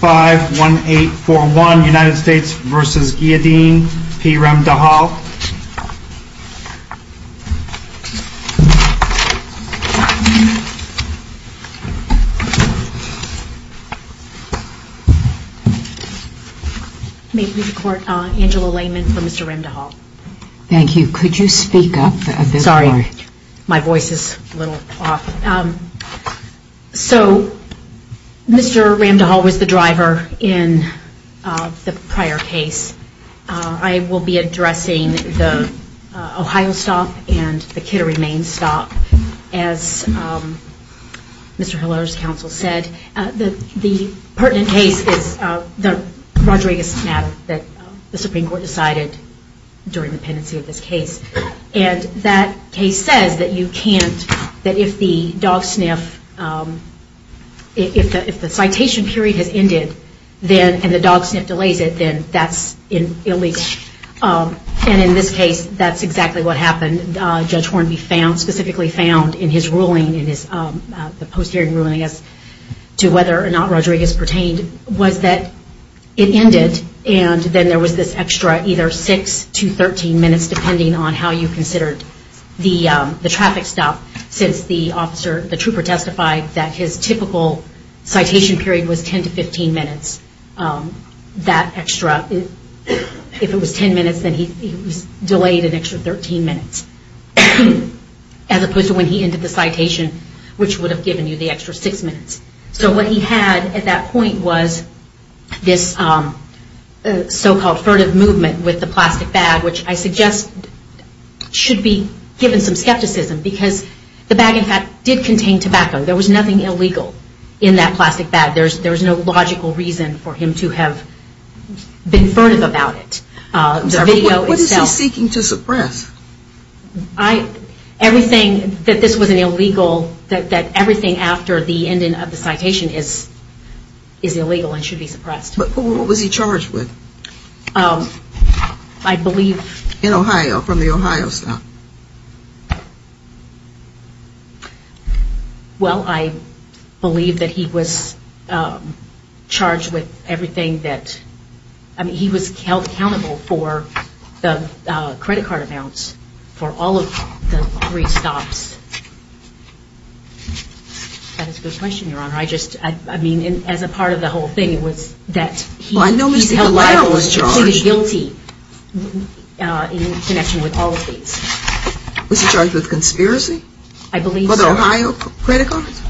51841 United States v. Ghiyadeen v. Ramdihall. May it please the Court, Angela Layman for Mr. Ramdihall. Thank you. Could you speak up a bit more? My voice is a little off. So, Mr. Ramdihall was the driver in the prior case. I will be addressing the Ohio stop and the Kittery, Maine stop, as Mr. Hiller's counsel said. The pertinent case is the Rodriguez matter that the Supreme Court decided during the pendency of this case. And that case says that you can't, that if the dog sniff, if the citation period has ended, and the dog sniff delays it, then that's illegal. And in this case, that's exactly what happened. Judge Hornby found, specifically found in his ruling, in the post-hearing ruling, I guess, to whether or not Rodriguez pertained, was that it ended. And then there was this extra either 6 to 13 minutes, depending on how you considered the traffic stop, since the officer, the trooper testified that his typical citation period was 10 to 15 minutes. That extra, if it was 10 minutes, then he was delayed an extra 13 minutes. As opposed to when he ended the citation, which would have given you the extra 6 minutes. So what he had at that point was this so-called furtive movement with the plastic bag, which I suggest should be given some skepticism, because the bag, in fact, did contain tobacco. There was nothing illegal in that plastic bag. There was no logical reason for him to have been furtive about it. What is he seeking to suppress? I, everything, that this was an illegal, that everything after the ending of the citation is illegal and should be suppressed. But who was he charged with? I believe. In Ohio, from the Ohio stop. Well, I believe that he was charged with everything that, I mean, he was held accountable for the credit card amounts for all of the three stops. That is a good question, Your Honor. I just, I mean, as a part of the whole thing, it was that he was held liable and completely guilty in connection with all of these. Was he charged with conspiracy? I believe so. For the Ohio credit cards?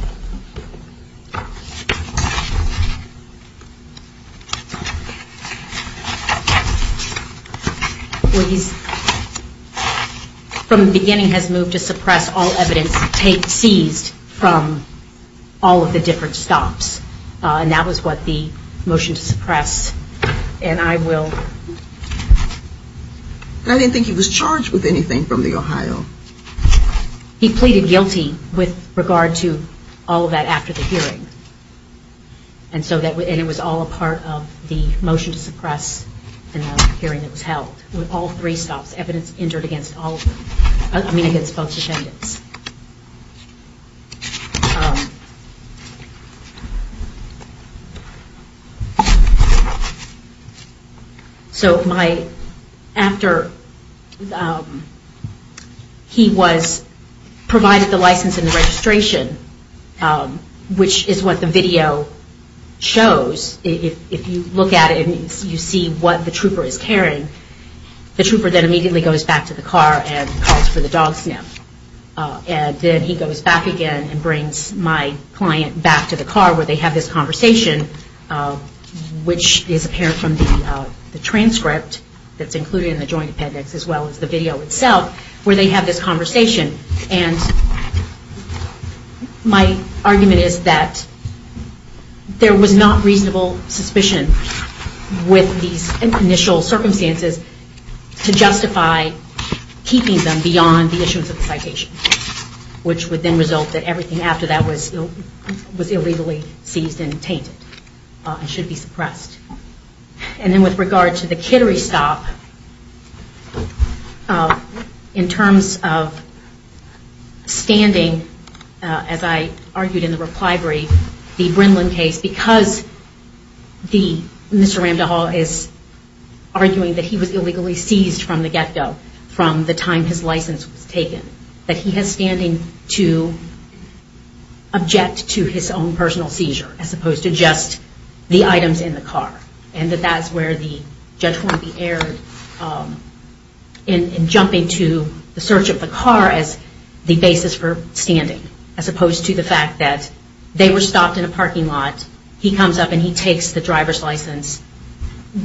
Well, he's, from the beginning, has moved to suppress all evidence seized from all of the different stops. And that was what the motion to suppress, and I will. I didn't think he was charged with anything from the Ohio. He pleaded guilty with regard to all of that after the hearing. And so that, and it was all a part of the motion to suppress in the hearing that was held. With all three stops, evidence entered against all, I mean, against both defendants. So my, after he was, provided the license and the registration, which is what the video shows, if you look at it and you see what the trooper is carrying, the trooper then immediately goes back to the car and calls for the dog sniff. And then he goes back again and brings my client back to the car where they have this conversation, which is apparent from the transcript that's included in the joint appendix, as well as the video itself, where they have this conversation. And my argument is that there was not reasonable suspicion with these initial circumstances to justify keeping them beyond the issuance of the citation, which would then result that everything after that was illegally seized and tainted and should be suppressed. And then with regard to the Kittery stop, in terms of standing, as I argued in the reply brief, the Brinlin case, because the, Mr. Ramdahal is arguing that he was illegally seized from the get-go, from the time his license was taken, that he has standing to object to his own personal seizure, as opposed to just the items in the car. And that that is where the judge wanted to be aired in jumping to the search of the car as the basis for standing, as opposed to the fact that they were stopped in a parking lot, he comes up and he takes the driver's license,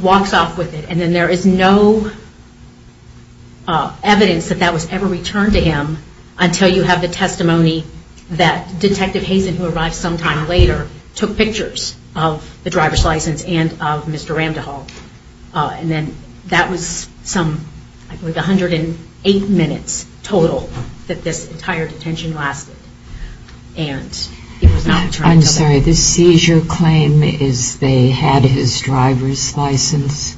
walks off with it, and then there is no evidence that that was ever returned to him until you have the testimony that Detective Hazen, who arrived sometime later, took pictures of the driver's license and of Mr. Ramdahal. And then that was some 108 minutes total that this entire detention lasted. And it was not returned to them. I'm sorry, the seizure claim is they had his driver's license?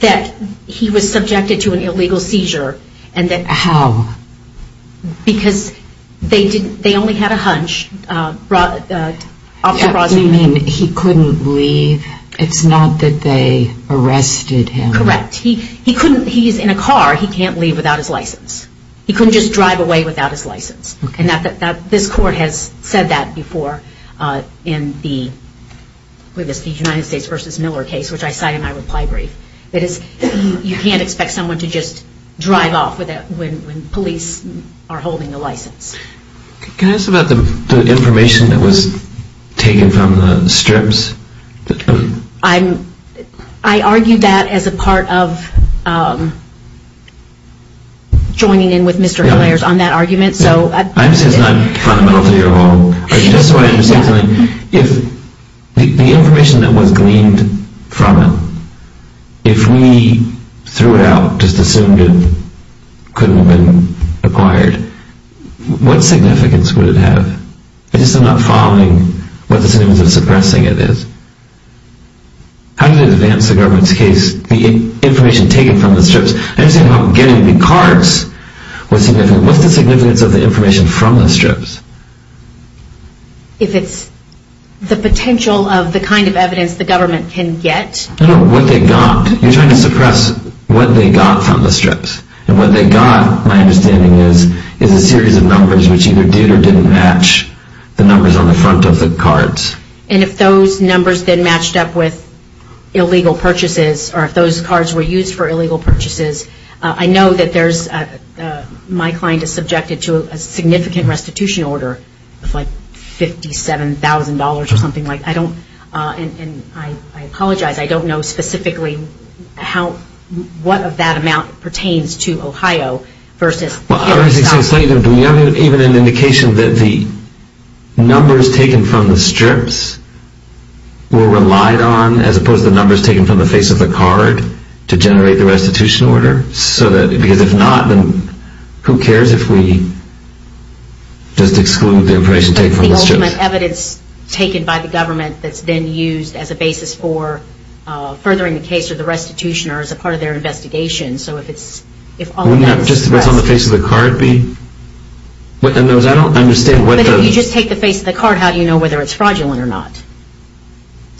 That he was subjected to an illegal seizure. How? Because they only had a hunch. You mean he couldn't leave? It's not that they arrested him? Correct. He is in a car, he can't leave without his license. He couldn't just drive away without his license. And this court has said that before in the United States v. Miller case, which I cite in my reply brief. You can't expect someone to just drive off when police are holding a license. Can I ask about the information that was taken from the strips? I argued that as a part of joining in with Mr. Hilliard on that argument. I'm saying it's not fundamental to your law. The information that was gleaned from it, if we threw it out, just assumed it couldn't have been acquired, what significance would it have? I'm just not following what the significance of suppressing it is. How did it advance the government's case, the information taken from the strips? I understand how getting the cards was significant. What's the significance of the information from the strips? If it's the potential of the kind of evidence the government can get. No, what they got. You're trying to suppress what they got from the strips. And what they got, my understanding is, is a series of numbers which either did or didn't match the numbers on the front of the cards. And if those numbers then matched up with illegal purchases, or if those cards were used for illegal purchases, I know that my client is subjected to a significant restitution order of like $57,000 or something like that. And I apologize, I don't know specifically what of that amount pertains to Ohio. Do we have even an indication that the numbers taken from the strips were relied on, as opposed to the numbers taken from the face of the card to generate the restitution order? Because if not, then who cares if we just exclude the information taken from the strips? But the ultimate evidence taken by the government that's then used as a basis for furthering the case or the restitution or as a part of their investigation, so if all of that was suppressed. Wouldn't just what's on the face of the card be? But if you just take the face of the card, how do you know whether it's fraudulent or not?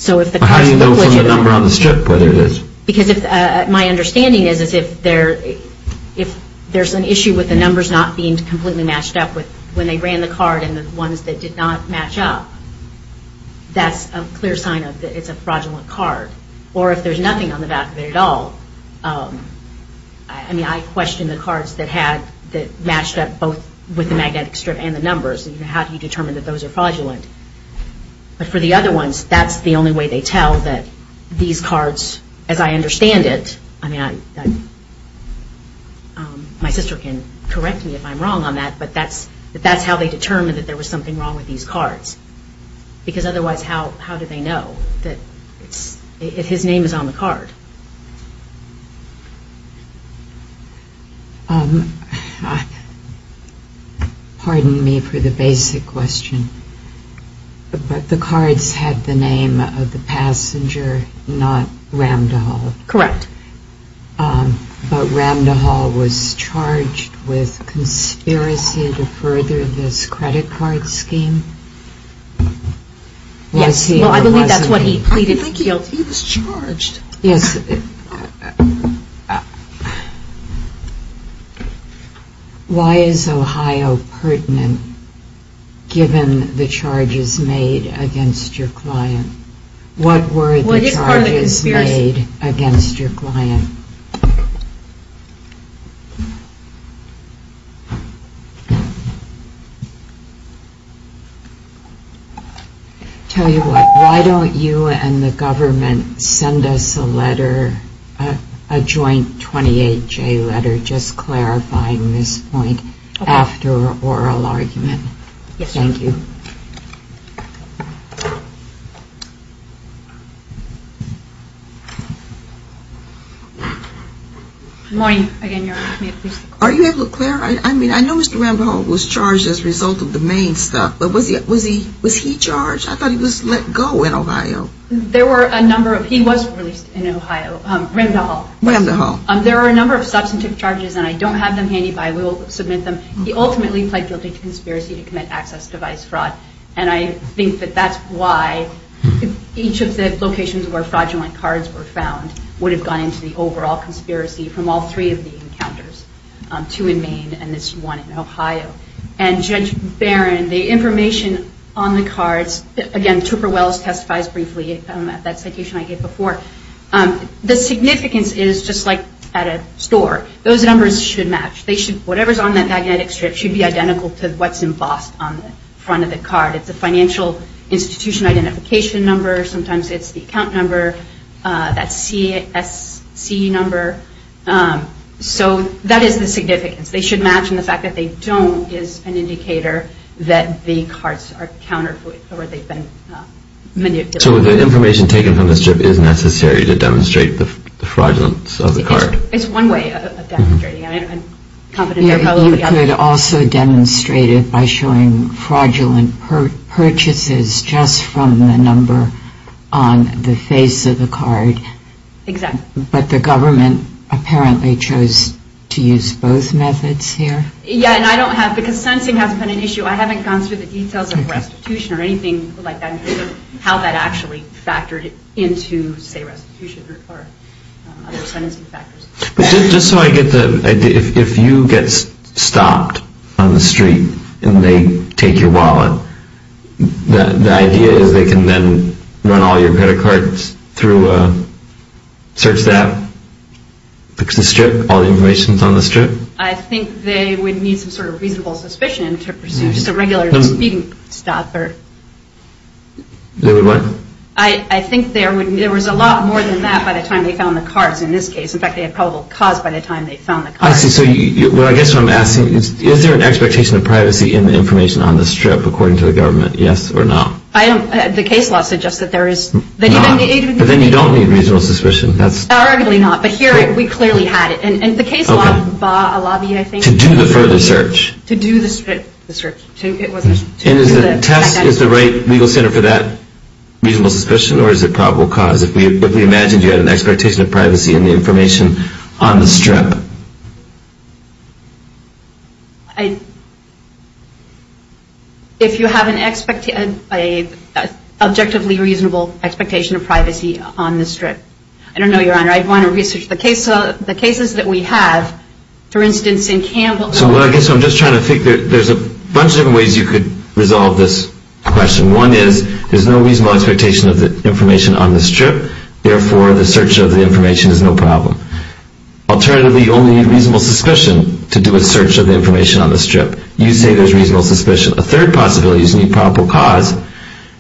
How do you know from the number on the strip whether it is? Because my understanding is if there's an issue with the numbers not being completely matched up when they ran the card and the ones that did not match up, that's a clear sign that it's a fraudulent card. Or if there's nothing on the back of it at all, I mean I question the cards that matched up both with the magnetic strip and the numbers. How do you determine that those are fraudulent? But for the other ones, that's the only way they tell that these cards, as I understand it, I mean my sister can correct me if I'm wrong on that, but that's how they determine that there was something wrong with these cards. Because otherwise how do they know if his name is on the card? Pardon me for the basic question, but the cards had the name of the passenger, not Ramdahal. Correct. But Ramdahal was charged with conspiracy to further this credit card scheme? Yes, well I believe that's what he pleaded guilty. I didn't think he was charged. Yes. Why is Ohio pertinent given the charges made against your client? What were the charges made against your client? Tell you what, why don't you and the government send us a letter, a joint 28-J letter, just clarifying this point after oral argument. Yes. Thank you. Good morning again, Your Honor. Are you able to clarify, I mean I know Mr. Ramdahal was charged as a result of the main stuff, but was he charged? I thought he was let go in Ohio. There were a number of, he was released in Ohio, Ramdahal. Ramdahal. There were a number of substantive charges and I don't have them handy, but I will submit them. He ultimately pled guilty to conspiracy to commit access device fraud and I think that that's why each of the locations where fraudulent cards were found would have gone into the overall conspiracy from all three of the encounters, two in Maine and this one in Ohio. And Judge Barron, the information on the cards, again Trooper Wells testifies briefly at that citation I gave before, the significance is just like at a store, those numbers should match. Whatever is on that magnetic strip should be identical to what's embossed on the front of the card. It's a financial institution identification number, sometimes it's the account number, that CSC number. So that is the significance. They should match and the fact that they don't is an indicator that the cards are counterfeit or they've been manipulated. So the information taken from the strip is necessary to demonstrate the fraudulence of the card. It's one way of demonstrating it. You could also demonstrate it by showing fraudulent purchases just from the number on the face of the card. Exactly. But the government apparently chose to use both methods here. Yeah, and I don't have, because sensing hasn't been an issue, I haven't gone through the details of restitution or anything like that or how that actually factored into, say, restitution or other sentencing factors. Just so I get the idea, if you get stopped on the street and they take your wallet, the idea is they can then run all your credit cards through a search app, fix the strip, all the information is on the strip? I think they would need some sort of reasonable suspicion to pursue just a regular speeding stop. They would what? I think there was a lot more than that by the time they found the cards in this case. In fact, they had probable cause by the time they found the cards. I see. So I guess what I'm asking is, is there an expectation of privacy in the information on the strip, according to the government, yes or no? The case law suggests that there is. But then you don't need reasonable suspicion. Arguably not, but here we clearly had it. To do the further search. To do the strip. And is the test, is the right legal center for that reasonable suspicion or is it probable cause? If we imagined you had an expectation of privacy in the information on the strip. If you have an objectively reasonable expectation of privacy on the strip. I don't know, Your Honor. I'd want to research the cases that we have. For instance, in Campbell. So I guess I'm just trying to think. There's a bunch of different ways you could resolve this question. One is there's no reasonable expectation of the information on the strip. Therefore, the search of the information is no problem. Alternatively, you only need reasonable suspicion to do a search of the information on the strip. You say there's reasonable suspicion. A third possibility is you need probable cause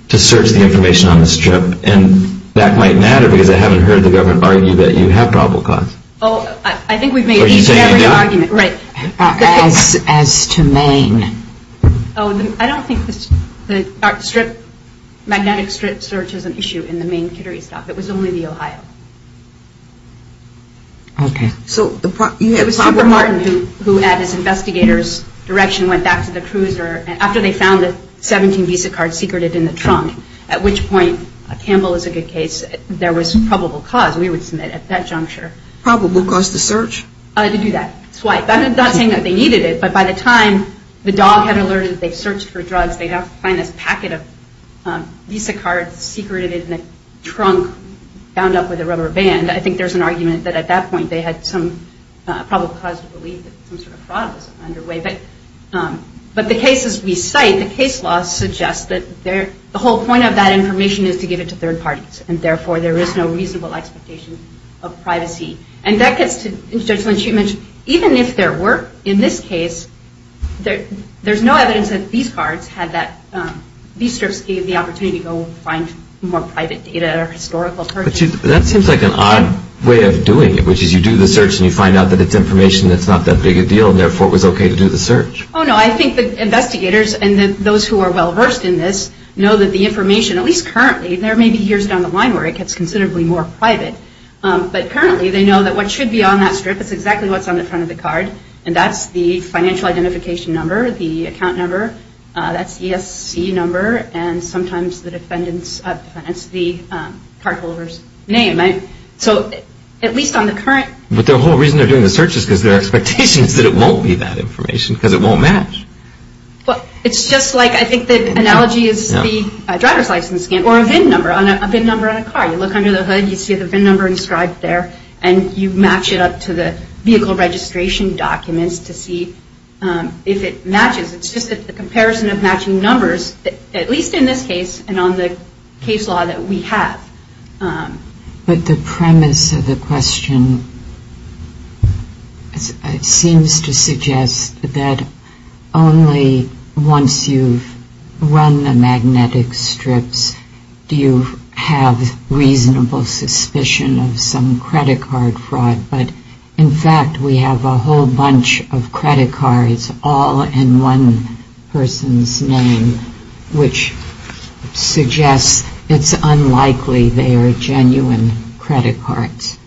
to search the information on the strip. And that might matter because I haven't heard the government argue that you have probable cause. Oh, I think we've made a very good argument. Right. As to Maine. Oh, I don't think the strip, magnetic strip search is an issue in the Maine Catering Stock. It was only the Ohio. Okay. So, you had Parker Martin who at his investigator's direction went back to the cruiser. After they found the 17 Visa cards secreted in the trunk. At which point, Campbell is a good case, there was probable cause. We would submit at that juncture. Probable cause to search? To do that. That's why. I'm not saying that they needed it. But by the time the dog had alerted that they searched for drugs, they'd have to find this packet of Visa cards secreted in the trunk bound up with a rubber band. I think there's an argument that at that point they had some probable cause to believe that some sort of fraud was underway. But the cases we cite, the case law suggests that the whole point of that information is to give it to third parties. And therefore, there is no reasonable expectation of privacy. And that gets to, as Judge Lynch, you mentioned, even if there were, in this case, there's no evidence that these cards had that, these strips gave the opportunity to go find more private data or historical. That seems like an odd way of doing it. Which is you do the search and you find out that it's information that's not that big a deal. And therefore, it was okay to do the search. Oh, no. I think the investigators and those who are well versed in this know that the information, at least currently, there may be years down the line where it gets considerably more private. But currently, they know that what should be on that strip is exactly what's on the front of the card. And that's the financial identification number, the account number. That's the ESC number. And sometimes the defendant's, that's the card holder's name. So at least on the current. But the whole reason they're doing the search is because their expectation is that it won't be that information because it won't match. It's just like, I think, the analogy is the driver's license scan or a VIN number on a car. You look under the hood, you see the VIN number inscribed there, and you match it up to the vehicle registration documents to see if it matches. It's just that the comparison of matching numbers, at least in this case and on the case law that we have. But the premise of the question seems to suggest that only once you've run the magnetic strips, do you have reasonable suspicion of some credit card fraud. But, in fact, we have a whole bunch of credit cards all in one person's name, which suggests it's unlikely they are genuine credit cards.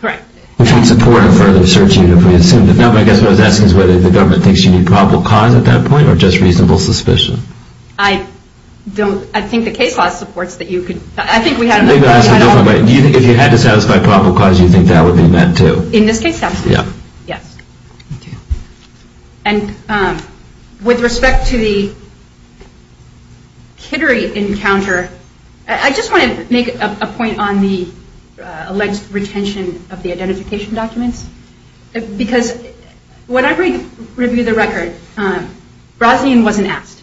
Correct. Which would support a further search unit if we assumed it. No, but I guess what I was asking is whether the government thinks you need probable cause at that point or just reasonable suspicion. I don't, I think the case law supports that you could, I think we had enough. If you had to satisfy probable cause, you think that would be met too? In this case, that would be met. Yeah. Yes. Okay. And with respect to the Kittery encounter, I just want to make a point on the alleged retention of the identification documents. Because when I reviewed the record, Brosnan wasn't asked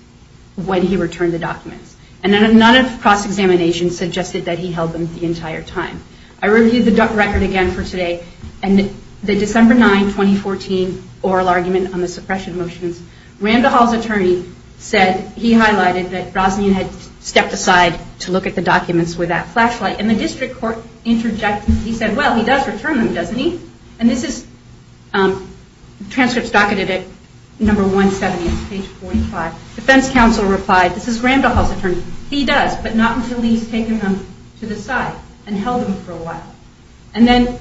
when he returned the documents. And none of cross-examination suggested that he held them the entire time. I reviewed the record again for today. And the December 9, 2014, oral argument on the suppression motions, Randall Hall's attorney said, he highlighted that Brosnan had stepped aside to look at the documents with that flashlight. And the district court interjected. He said, well, he does return them, doesn't he? And this is transcripts docketed at number 170, page 45. Defense counsel replied, this is Randall Hall's attorney. He does, but not until he's taken them to the side and held them for a while. And then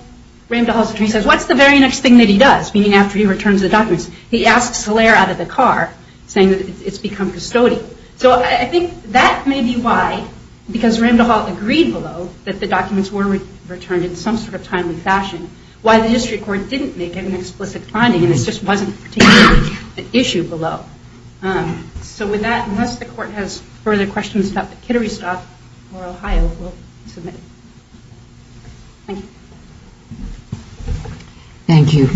Randall Hall's attorney says, what's the very next thing that he does, meaning after he returns the documents? He asks Solaire out of the car, saying that it's become custodial. So I think that may be why, because Randall Hall agreed below that the documents were returned in some sort of timely fashion, why the district court didn't make an explicit finding. And this just wasn't a particular issue below. So with that, unless the court has further questions about the Kittery stuff or Ohio, we'll submit. Thank you. Thank you.